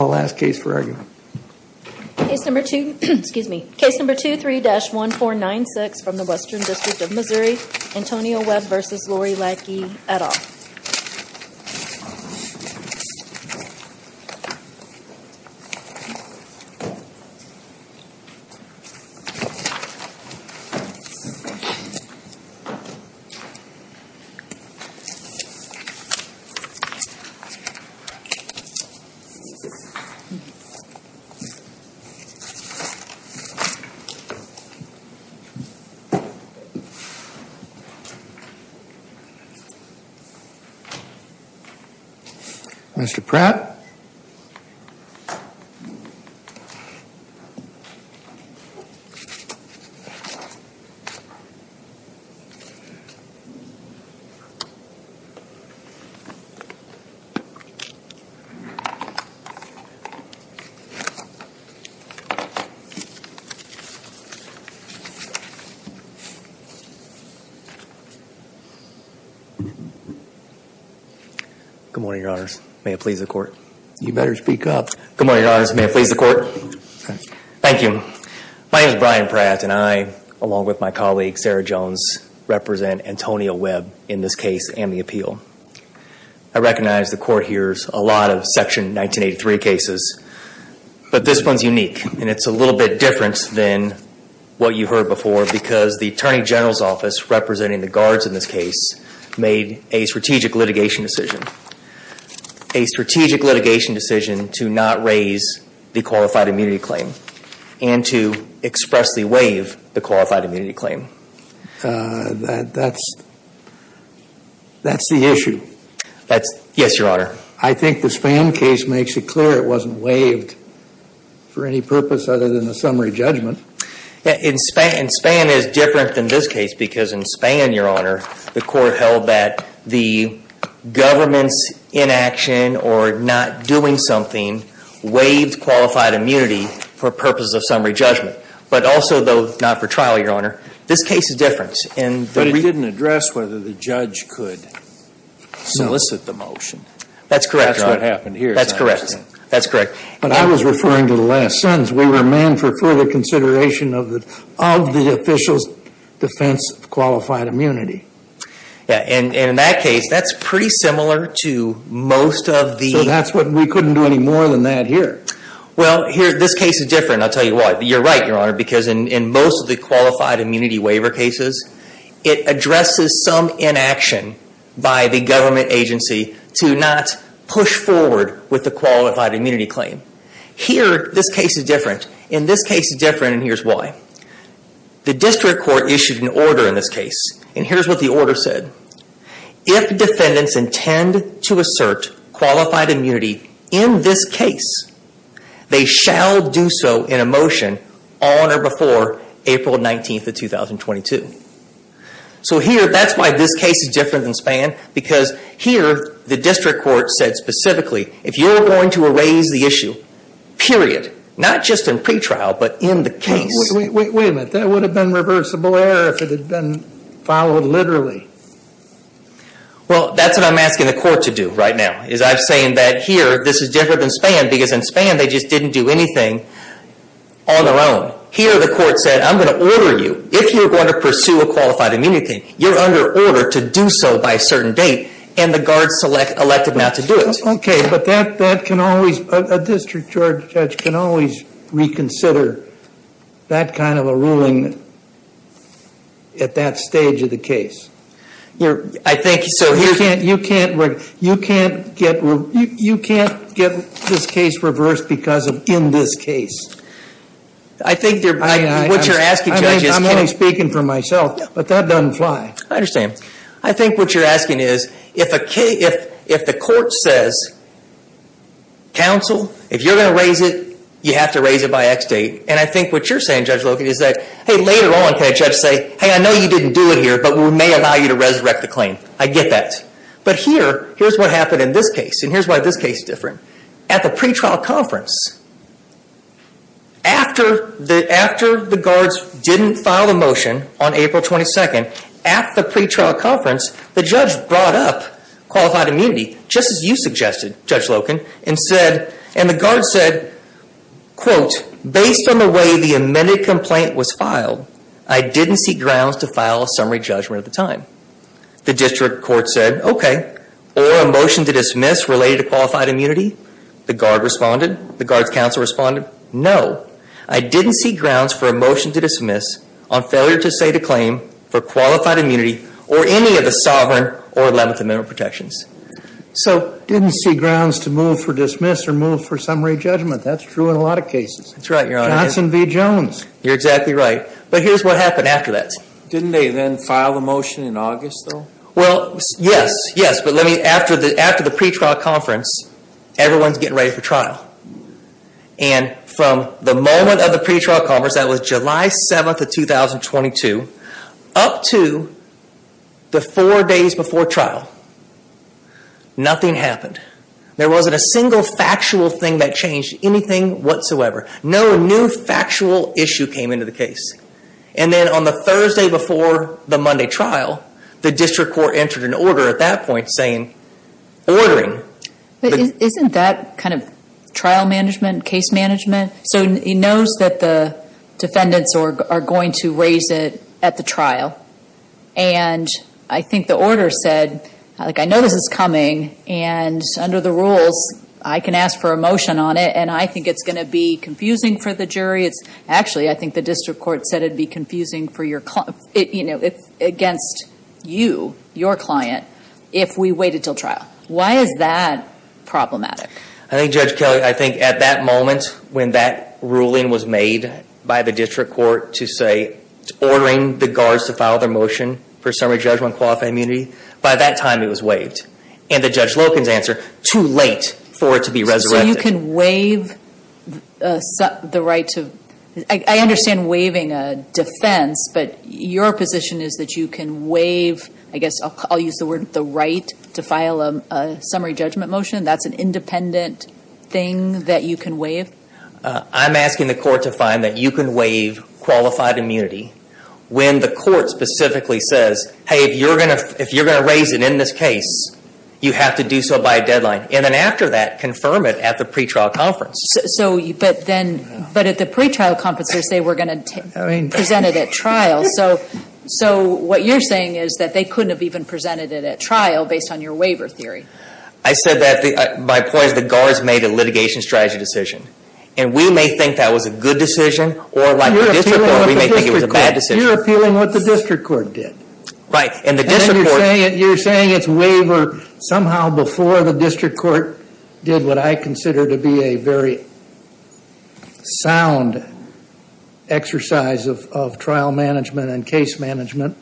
and I'll ask Case for Argument. Case number 2, excuse me, Case number 23-1496 from the Western District of Missouri, Antonio Webb v Lori Lakey et al. Case number 23-1496 from the Western District of Missouri, Antonio Webb v Lori Lakey et al. Good morning, Your Honors. May it please the Court. You better speak up. Good morning, Your Honors. May it please the Court. Thank you. My name is Brian Pratt and I, along with my colleague Sarah Jones, represent Antonio Webb in this case and the appeal. I recognize the Court hears a lot of Section 1983 cases, but this one's unique and it's a little bit different than what you heard before because the Attorney General's Office, representing the guards in this case, made a strategic litigation decision. A strategic litigation decision to not raise the qualified immunity claim and to expressly waive the qualified immunity claim. That's the issue. Yes, Your Honor. I think the Spann case makes it clear it wasn't waived for any purpose other than a summary judgment. Spann is different than this case because in Spann, Your Honor, the Court held that the government's inaction or not doing something waived qualified immunity for purposes of summary judgment, but also, though, not for trial, Your Honor. This case is different. But it didn't address whether the judge could solicit the motion. That's correct. That's what happened here. That's correct. That's correct. But I was referring to the last sentence. We remain for further consideration of the official's defense of qualified immunity. And in that case, that's pretty similar to most of the... So that's what we couldn't do any more than that here. Well, here, this case is different. I'll tell you why. You're right, Your Honor, because in most of the qualified immunity waiver cases, it addresses some inaction by the government agency to not push forward with the qualified immunity claim. Here, this case is different. In this case, it's different, and here's why. The district court issued an order in this case, and here's what the order said. If defendants intend to assert qualified immunity in this case, they shall do so in a motion on or before April 19th of 2022. So here, that's why this case is different than Spann, because here, the district court said specifically, if you're going to erase the issue, period, not just in pretrial, but in the case... Wait a minute, that would have been reversible error if it had been followed literally. Well, that's what I'm asking the court to do right now, is I'm saying that here, this is different than Spann, because in Spann, they just didn't do anything on their own. Here, the court said, I'm going to order you. If you're going to pursue a qualified immunity claim, you're under order to do so by a certain date, and the guards selected not to do it. Okay, but a district judge can always reconsider that kind of a ruling at that stage of the case. You can't get this case reversed because of in this case. What you're asking, Judge, is... I'm only speaking for myself, but that doesn't fly. I understand. I think what you're asking is, if the court says, counsel, if you're going to raise it, you have to raise it by X date, and I think what you're saying, Judge Logan, is that, hey, later on, can a judge say, hey, I know you didn't do it here, but we may allow you to resurrect the claim. I get that. But here, here's what happened in this case, and here's why this case is different. At the pretrial conference, after the guards didn't file the motion on April 22nd, at the pretrial conference, the judge brought up qualified immunity, just as you suggested, Judge Logan, and said, and the guards said, quote, based on the way the amended complaint was filed, I didn't see grounds to file a summary judgment at the time. The district court said, okay, or a motion to dismiss related to qualified immunity. The guard responded. The guards' counsel responded, no, I didn't see grounds for a motion to dismiss on failure to say the claim for qualified immunity or any of the Sovereign or Eleventh Amendment protections. So didn't see grounds to move for dismiss or move for summary judgment. That's true in a lot of cases. That's right, Your Honor. Johnson v. Jones. You're exactly right. But here's what happened after that. Didn't they then file the motion in August, though? Well, yes, yes, but let me, after the pretrial conference, everyone's getting ready for trial. And from the moment of the pretrial conference, that was July 7th of 2022, up to the four days before trial, nothing happened. There wasn't a single factual thing that changed anything whatsoever. No new factual issue came into the case. And then on the Thursday before the Monday trial, the district court entered an order at that point saying, ordering. But isn't that kind of trial management, case management? So he knows that the defendants are going to raise it at the trial. And I think the order said, like, I know this is coming, and under the rules, I can ask for a motion on it, and I think it's going to be confusing for the jury. Actually, I think the district court said it would be confusing for your client. You know, against you, your client, if we wait until trial. Why is that problematic? I think, Judge Kelley, I think at that moment, when that ruling was made by the district court to say, ordering the guards to file their motion for summary judgment on qualified immunity, by that time it was waived. And the Judge Lopin's answer, too late for it to be resurrected. So you can waive the right to, I understand waiving a defense, but your position is that you can waive, I guess I'll use the word, the right to file a summary judgment motion? That's an independent thing that you can waive? I'm asking the court to find that you can waive qualified immunity when the court specifically says, hey, if you're going to raise it in this case, you have to do so by a deadline. And then after that, confirm it at the pretrial conference. But at the pretrial conference, they say we're going to present it at trial. So what you're saying is that they couldn't have even presented it at trial based on your waiver theory. I said that, my point is the guards made a litigation strategy decision. And we may think that was a good decision, or like the district court, we may think it was a bad decision. You're appealing what the district court did. Right. And you're saying it's waivered somehow before the district court did what I consider to be a very sound exercise of trial management and case management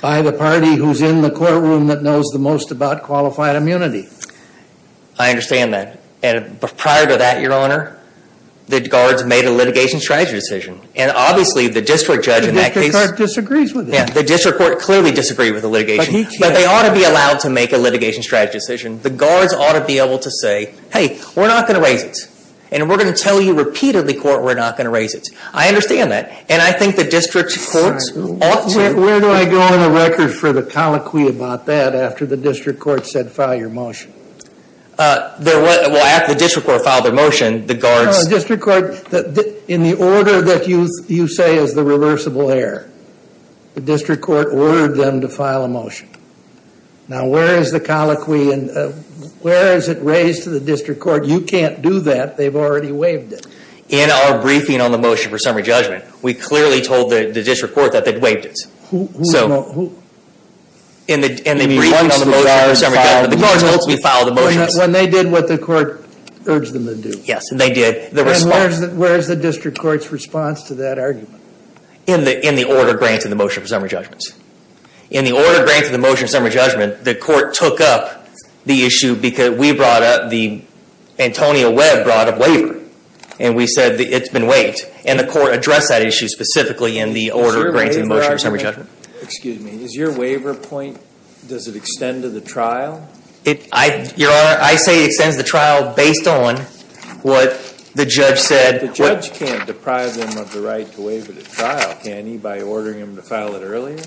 by the party who's in the courtroom that knows the most about qualified immunity. I understand that. And prior to that, your honor, the guards made a litigation strategy decision. And obviously the district judge in that case. The district court disagrees with that. The district court clearly disagrees with the litigation. But they ought to be allowed to make a litigation strategy decision. The guards ought to be able to say, hey, we're not going to raise it. And we're going to tell you repeatedly, court, we're not going to raise it. I understand that. And I think the district courts ought to. Where do I go on the record for the colloquy about that after the district court said file your motion? Well, after the district court filed their motion, the guards. Your honor, district court, in the order that you say is the reversible error, the district court ordered them to file a motion. Now, where is the colloquy and where is it raised to the district court? You can't do that. They've already waived it. In our briefing on the motion for summary judgment, we clearly told the district court that they'd waived it. Who? In the briefing on the motion for summary judgment, the guards ultimately filed the motion. When they did what the court urged them to do. Yes, and they did. And where is the district court's response to that argument? In the order granted in the motion for summary judgment. In the order granted in the motion for summary judgment, the court took up the issue because we brought up the Antonio Webb brought up waiver. And we said it's been waived. And the court addressed that issue specifically in the order granted in the motion for summary judgment. Excuse me. Does your waiver point, does it extend to the trial? Your Honor, I say it extends to the trial based on what the judge said. The judge can't deprive them of the right to waive it at trial, can he, by ordering them to file it earlier?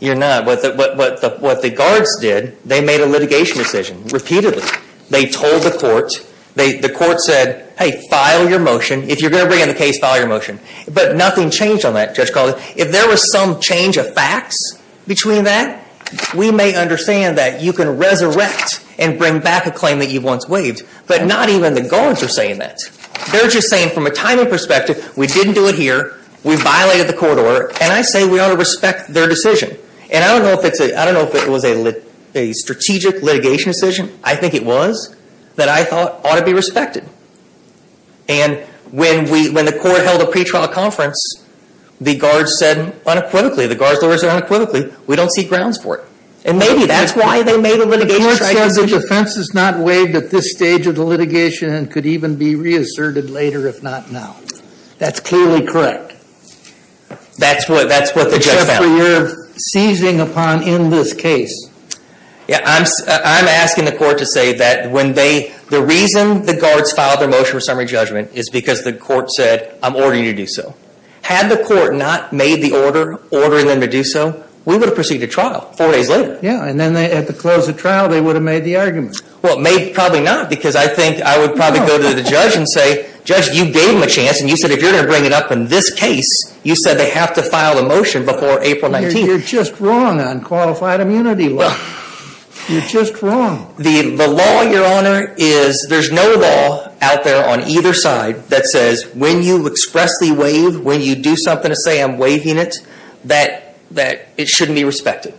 You're not. What the guards did, they made a litigation decision repeatedly. They told the court. The court said, hey, file your motion. If you're going to bring in the case, file your motion. But nothing changed on that, Judge Caldwell. If there was some change of facts between that, we may understand that you can resurrect and bring back a claim that you once waived. But not even the guards are saying that. They're just saying from a timing perspective, we didn't do it here. We violated the court order. And I say we ought to respect their decision. And I don't know if it was a strategic litigation decision. I think it was that I thought ought to be respected. And when the court held a pretrial conference, the guards said unequivocally, the guards lawyers said unequivocally, we don't see grounds for it. And maybe that's why they made a litigation decision. The court says the defense is not waived at this stage of the litigation and could even be reasserted later if not now. That's clearly correct. That's what the judge found. Except for you're seizing upon in this case. I'm asking the court to say that the reason the guards filed their motion for summary judgment is because the court said I'm ordering you to do so. Had the court not made the order ordering them to do so, we would have proceeded to trial four days later. Yeah, and then at the close of trial, they would have made the argument. Well, probably not because I think I would probably go to the judge and say, judge, you gave them a chance. And you said if you're going to bring it up in this case, you said they have to file a motion before April 19th. You're just wrong on qualified immunity law. You're just wrong. The law, your honor, is there's no law out there on either side that says when you expressly waive, when you do something to say I'm waiving it, that it shouldn't be respected.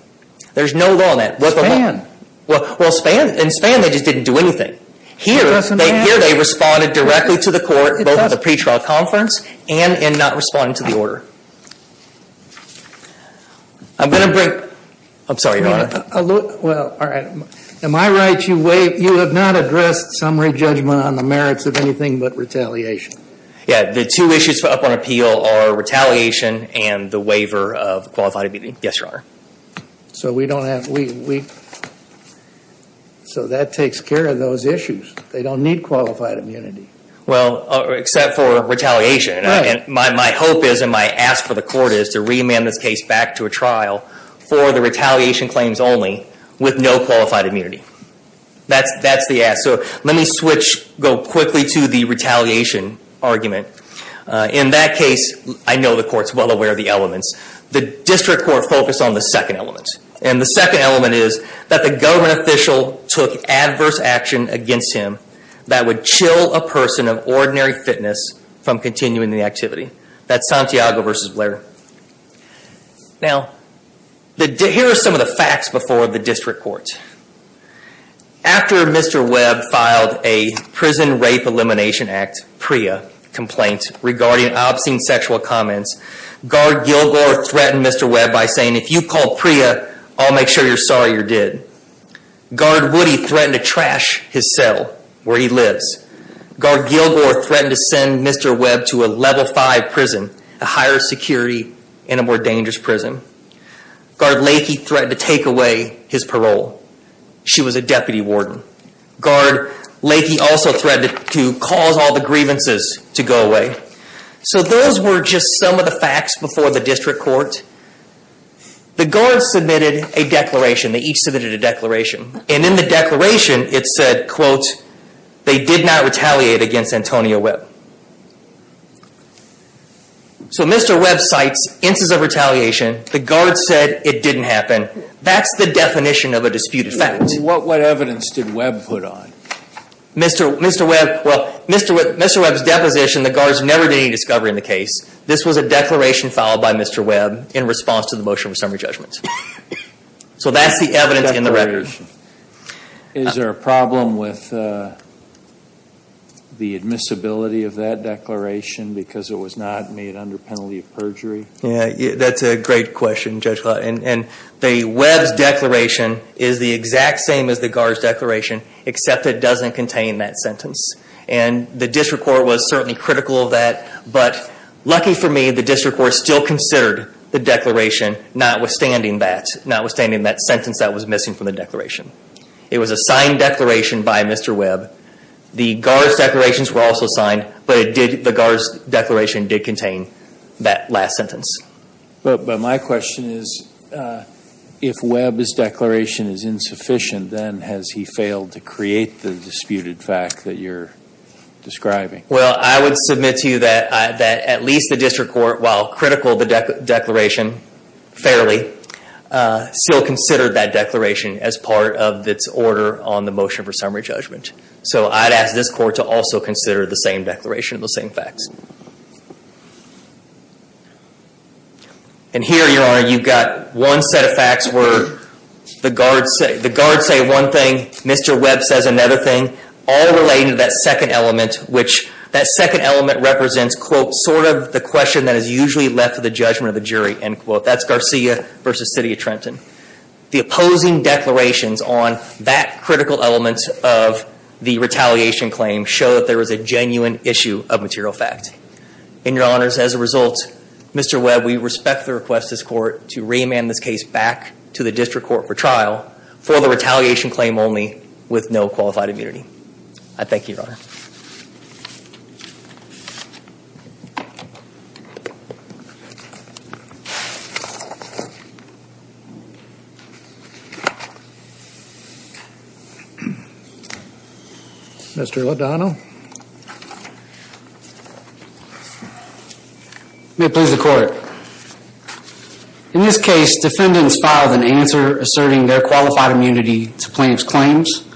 There's no law on that. Well, in Span they just didn't do anything. Here they responded directly to the court, both in the pre-trial conference and in not responding to the order. I'm sorry, your honor. Well, all right. Am I right? You have not addressed summary judgment on the merits of anything but retaliation. Yeah, the two issues put up on appeal are retaliation and the waiver of qualified immunity. Yes, your honor. So we don't have, we, so that takes care of those issues. They don't need qualified immunity. Well, except for retaliation. Right. My hope is and my ask for the court is to reamend this case back to a trial for the retaliation claims only with no qualified immunity. That's the ask. So let me switch, go quickly to the retaliation argument. In that case, I know the court's well aware of the elements. The district court focused on the second element. And the second element is that the government official took adverse action against him that would chill a person of ordinary fitness from continuing the activity. That's Santiago versus Blair. Now, here are some of the facts before the district court. After Mr. Webb filed a Prison Rape Elimination Act, PREA, complaint regarding obscene sexual comments, Guard Gilgore threatened Mr. Webb by saying, if you call PREA, I'll make sure you're sorry you're dead. Guard Woody threatened to trash his cell where he lives. Guard Gilgore threatened to send Mr. Webb to a Level 5 prison, a higher security and a more dangerous prison. Guard Lakey threatened to take away his parole. She was a deputy warden. Guard Lakey also threatened to cause all the grievances to go away. So those were just some of the facts before the district court. The guards submitted a declaration. They each submitted a declaration. And in the declaration, it said, quote, they did not retaliate against Antonio Webb. So Mr. Webb cites instances of retaliation. The guards said it didn't happen. That's the definition of a disputed fact. What evidence did Webb put on? Mr. Webb, well, Mr. Webb's deposition, the guards never did any discovery in the case. This was a declaration filed by Mr. Webb in response to the motion of summary judgment. So that's the evidence in the record. Is there a problem with the admissibility of that declaration because it was not made under penalty of perjury? Yeah, that's a great question, Judge Clark. And the Webb's declaration is the exact same as the guards' declaration, except it doesn't contain that sentence. And the district court was certainly critical of that. But lucky for me, the district court still considered the declaration notwithstanding that, notwithstanding that sentence that was missing from the declaration. It was a signed declaration by Mr. Webb. The guards' declarations were also signed, but the guards' declaration did contain that last sentence. But my question is, if Webb's declaration is insufficient, then has he failed to create the disputed fact that you're describing? Well, I would submit to you that at least the district court, while critical of the declaration fairly, still considered that declaration as part of its order on the motion for summary judgment. So I'd ask this court to also consider the same declaration, the same facts. And here, Your Honor, you've got one set of facts where the guards say one thing, Mr. Webb says another thing, all relating to that second element, which that second element represents, quote, sort of the question that is usually left to the judgment of the jury, end quote. That's Garcia versus City of Trenton. The opposing declarations on that critical element of the retaliation claim show that there was a genuine issue of material fact. And, Your Honors, as a result, Mr. Webb, we respect the request of this court to reamand this case back to the district court for trial for the retaliation claim only with no qualified immunity. I thank you, Your Honor. Mr. Lodano? May it please the court. In this case, defendants filed an answer asserting their qualified immunity to plaintiff's claims,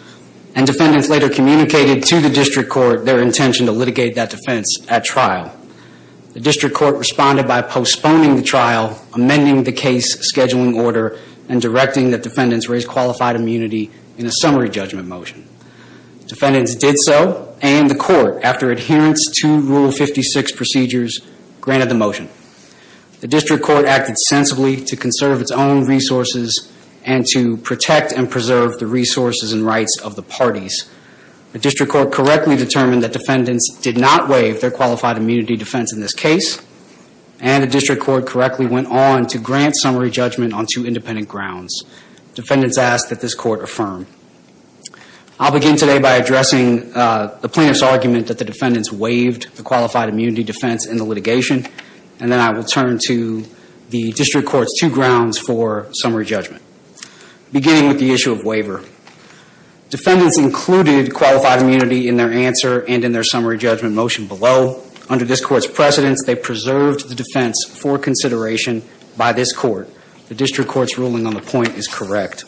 and defendants later communicated to the district court their intention to litigate that defense at trial. The district court responded by postponing the trial, amending the case scheduling order, and directing that defendants raise qualified immunity in a summary judgment motion. Defendants did so, and the court, after adherence to Rule 56 procedures, granted the motion. The district court acted sensibly to conserve its own resources and to protect and preserve the resources and rights of the parties. The district court correctly determined that defendants did not waive their qualified immunity defense in this case, and the district court correctly went on to grant summary judgment on two independent grounds. Defendants ask that this court affirm. I'll begin today by addressing the plaintiff's argument that the defendants waived the qualified immunity defense in the litigation, and then I will turn to the district court's two grounds for summary judgment. Beginning with the issue of waiver. Defendants included qualified immunity in their answer and in their summary judgment motion below. Under this court's precedence, they preserved the defense for consideration by this court. The district court's ruling on the point is correct.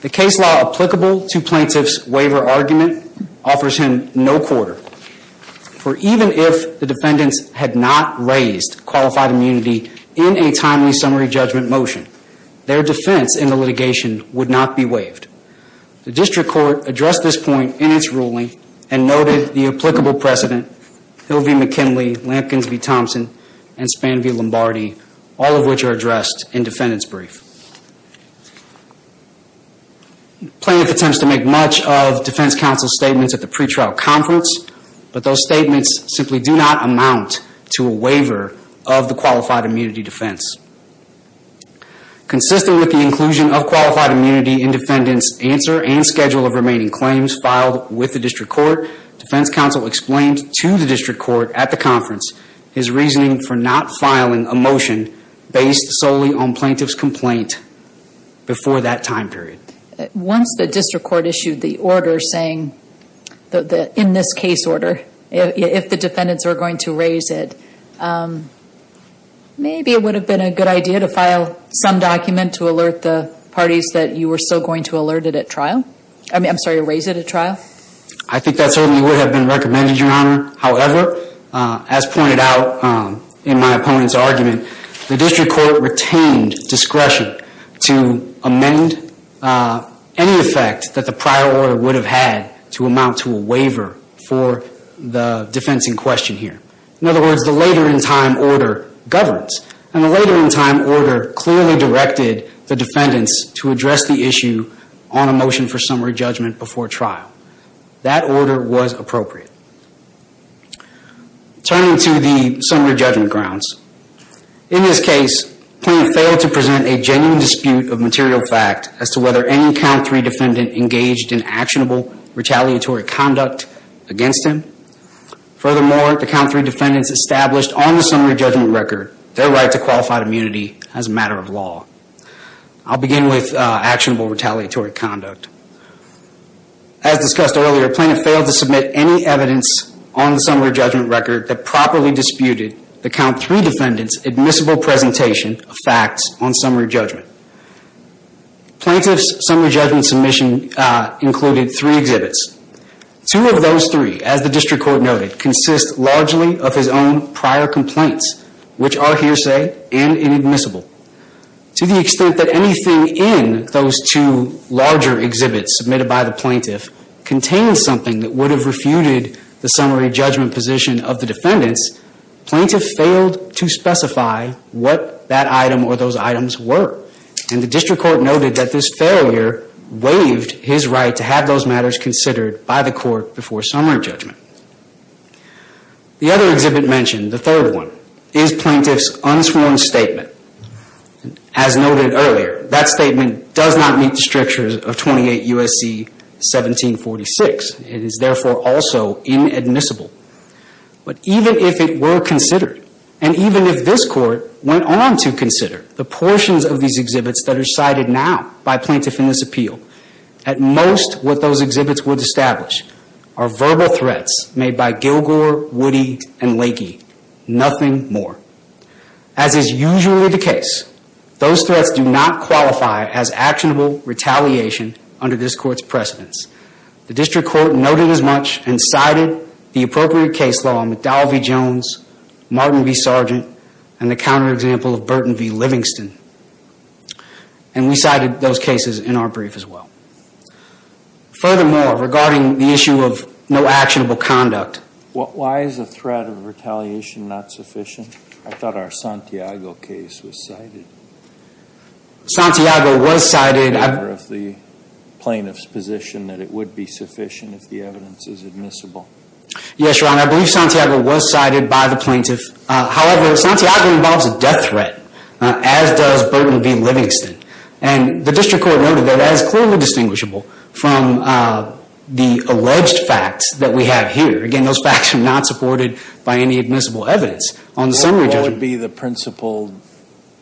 The case law applicable to plaintiff's waiver argument offers him no quarter. For even if the defendants had not raised qualified immunity in a timely summary judgment motion, their defense in the litigation would not be waived. The district court addressed this point in its ruling and noted the applicable precedent, Hill v. McKinley, Lampkins v. Thompson, and Span v. Lombardi, all of which are addressed in defendant's brief. Plaintiff attempts to make much of defense counsel's statements at the pretrial conference, but those statements simply do not amount to a waiver of the qualified immunity defense. Consistent with the inclusion of qualified immunity in defendant's answer and schedule of remaining claims filed with the district court, defense counsel explained to the district court at the conference his reasoning for not filing a motion based solely on plaintiff's complaint before that time period. Once the district court issued the order saying, in this case order, if the defendants were going to raise it, maybe it would have been a good idea to file some document to alert the parties that you were still going to raise it at trial? I think that certainly would have been recommended, Your Honor. However, as pointed out in my opponent's argument, the district court retained discretion to amend any effect that the prior order would have had to amount to a waiver for the defense in question here. In other words, the later in time order governs, and the later in time order clearly directed the defendants to address the issue on a motion for summary judgment before trial. That order was appropriate. Turning to the summary judgment grounds, in this case, plaintiff failed to present a genuine dispute of material fact as to whether any count three defendant engaged in actionable retaliatory conduct against him. Furthermore, the count three defendants established on the summary judgment record their right to qualified immunity as a matter of law. I'll begin with actionable retaliatory conduct. As discussed earlier, plaintiff failed to submit any evidence on the summary judgment record that properly disputed the count three defendant's admissible presentation of facts on summary judgment. Plaintiff's summary judgment submission included three exhibits. Two of those three, as the district court noted, consist largely of his own prior complaints, which are hearsay and inadmissible. To the extent that anything in those two larger exhibits submitted by the plaintiff contains something that would have refuted the summary judgment position of the defendants, plaintiff failed to specify what that item or those items were. And the district court noted that this failure waived his right to have those matters considered by the court before summary judgment. The other exhibit mentioned, the third one, is plaintiff's unsworn statement. As noted earlier, that statement does not meet the strictures of 28 U.S.C. 1746. It is therefore also inadmissible. But even if it were considered, and even if this court went on to consider the portions of these exhibits that are cited now by plaintiff in this appeal, at most what those exhibits would establish are verbal threats made by Gilgore, Woody, and Lakey. Nothing more. As is usually the case, those threats do not qualify as actionable retaliation under this court's precedence. The district court noted as much and cited the appropriate case law in McDowell v. Jones, Martin v. Sargent, and the counterexample of Burton v. Livingston. And we cited those cases in our brief as well. Furthermore, regarding the issue of no actionable conduct. Why is the threat of retaliation not sufficient? I thought our Santiago case was cited. Santiago was cited. The plaintiff's position that it would be sufficient if the evidence is admissible. Yes, Your Honor. I believe Santiago was cited by the plaintiff. However, Santiago involves a death threat, as does Burton v. Livingston. And the district court noted that that is clearly distinguishable from the alleged facts that we have here. Again, those facts are not supported by any admissible evidence. What would be the principal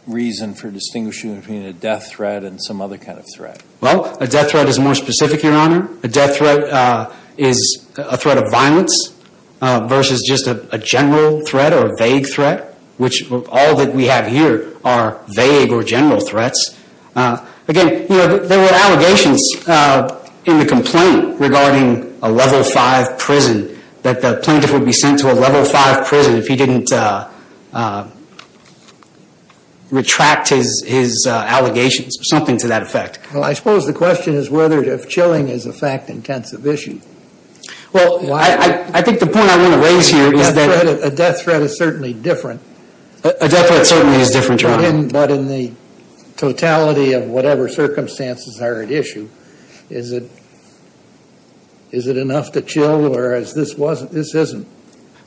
reason for distinguishing between a death threat and some other kind of threat? Well, a death threat is more specific, Your Honor. A death threat is a threat of violence versus just a general threat or a vague threat, which all that we have here are vague or general threats. Again, there were allegations in the complaint regarding a level 5 prison. That the plaintiff would be sent to a level 5 prison if he didn't retract his allegations. Something to that effect. Well, I suppose the question is whether or not chilling is a fact-intensive issue. Well, I think the point I want to raise here is that a death threat is certainly different. A death threat certainly is different, Your Honor. But in the totality of whatever circumstances are at issue, is it enough to chill, whereas this isn't?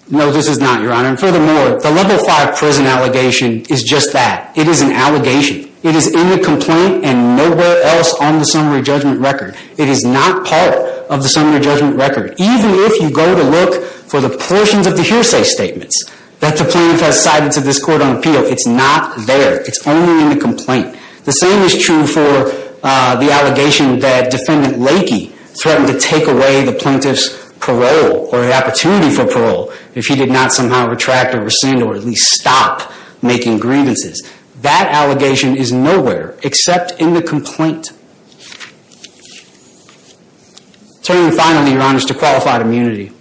No, this is not, Your Honor. And furthermore, the level 5 prison allegation is just that. It is an allegation. It is in the complaint and nowhere else on the summary judgment record. It is not part of the summary judgment record. Even if you go to look for the portions of the hearsay statements that the plaintiff has cited to this court on appeal, it's not there. It's only in the complaint. The same is true for the allegation that Defendant Lakey threatened to take away the plaintiff's parole or the opportunity for parole if he did not somehow retract or rescind or at least stop making grievances. That allegation is nowhere except in the complaint. Turning finally, Your Honor, to qualified immunity.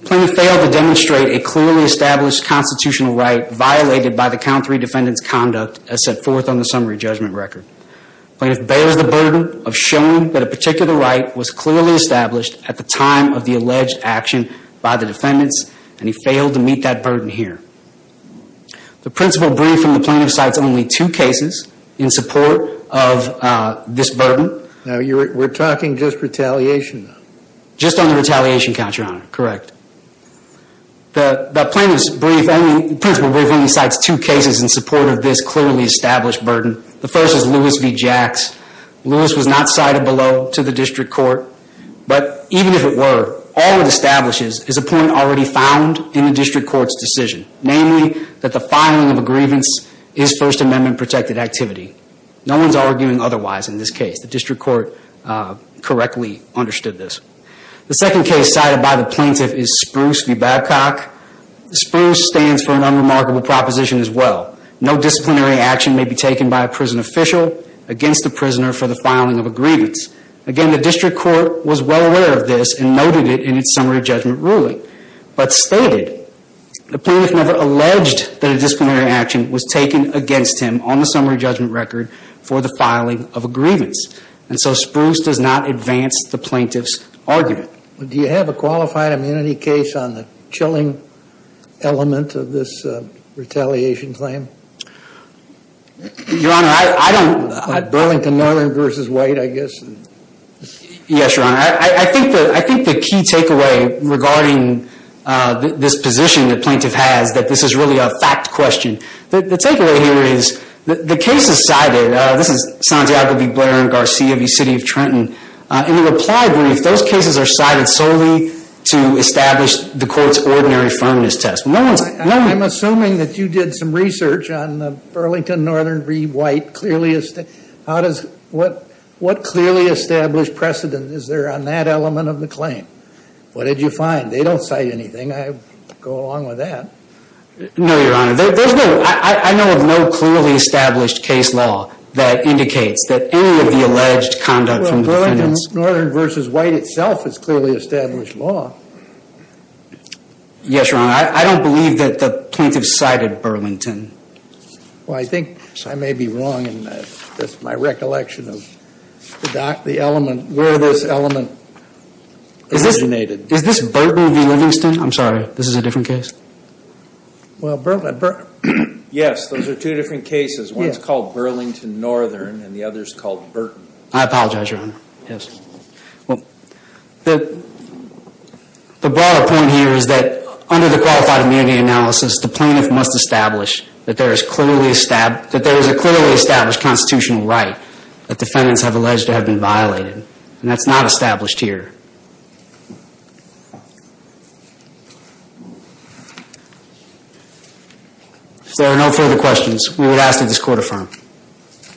The plaintiff failed to demonstrate a clearly established constitutional right violated by the count three defendant's conduct as set forth on the summary judgment record. The plaintiff bears the burden of showing that a particular right was clearly established at the time of the alleged action by the defendants, and he failed to meet that burden here. The principal brief from the plaintiff cites only two cases in support of this burden. We're talking just retaliation. Just on the retaliation count, Your Honor. Correct. The plaintiff's principal brief only cites two cases in support of this clearly established burden. The first is Lewis v. Jacks. Namely, that the filing of a grievance is First Amendment protected activity. No one's arguing otherwise in this case. The district court correctly understood this. The second case cited by the plaintiff is Spruce v. Babcock. Spruce stands for an unremarkable proposition as well. No disciplinary action may be taken by a prison official against the prisoner for the filing of a grievance. Again, the district court was well aware of this and noted it in its summary judgment ruling, but stated, the plaintiff never alleged that a disciplinary action was taken against him on the summary judgment record for the filing of a grievance. And so Spruce does not advance the plaintiff's argument. Do you have a qualified immunity case on the chilling element of this retaliation claim? Your Honor, I don't. Burlington Northern v. White, I guess. Yes, Your Honor. I think the key takeaway regarding this position the plaintiff has that this is really a fact question. The takeaway here is the case is cited. This is Santiago v. Blair and Garcia v. City of Trenton. In the reply brief, those cases are cited solely to establish the court's ordinary firmness test. I'm assuming that you did some research on Burlington Northern v. White. What clearly established precedent is there on that element of the claim? What did you find? They don't cite anything. I go along with that. No, Your Honor. I know of no clearly established case law that indicates that any of the alleged conduct from the defendants. Well, Burlington Northern v. White itself is clearly established law. Yes, Your Honor. I don't believe that the plaintiff cited Burlington. Well, I think I may be wrong. That's my recollection of the element where this element originated. Is this Burton v. Livingston? I'm sorry. This is a different case? Yes, those are two different cases. One is called Burlington Northern and the other is called Burton. I apologize, Your Honor. Yes. Well, the broader point here is that under the qualified immunity analysis, the plaintiff must establish that there is a clearly established constitutional right that defendants have alleged to have been violated. And that's not established here. If there are no further questions, we would ask that this court affirm. Thank you.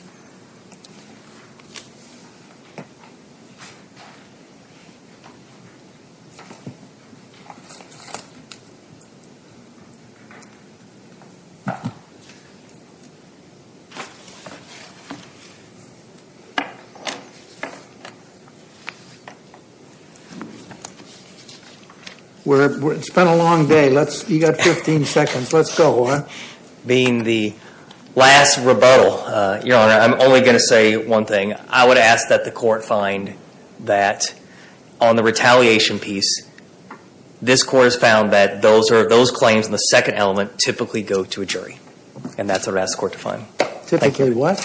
It's been a long day. You've got 15 seconds. Let's go. Being the last rebuttal, Your Honor, I'm only going to say one thing. I would ask that the court find that on the retaliation piece, this court has found that those claims in the second element typically go to a jury. And that's what I'd ask the court to find. Typically what?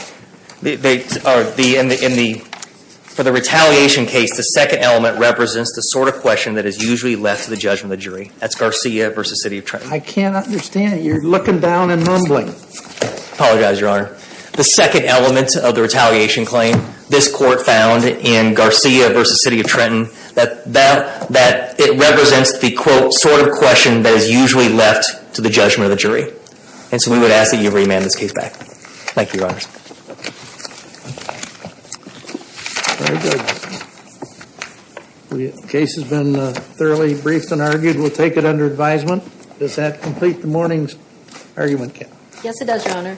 In the retaliation case, the second element represents the sort of question that is usually left to the judge and the jury. That's Garcia v. City of Trenton. I can't understand it. You're looking down and mumbling. I apologize, Your Honor. The second element of the retaliation claim, this court found in Garcia v. City of Trenton, that it represents the, quote, sort of question that is usually left to the judgment of the jury. And so we would ask that you remand this case back. Thank you, Your Honors. The case has been thoroughly briefed and argued. We'll take it under advisement. Does that complete the morning's argument, Ken? Yes, it does, Your Honor.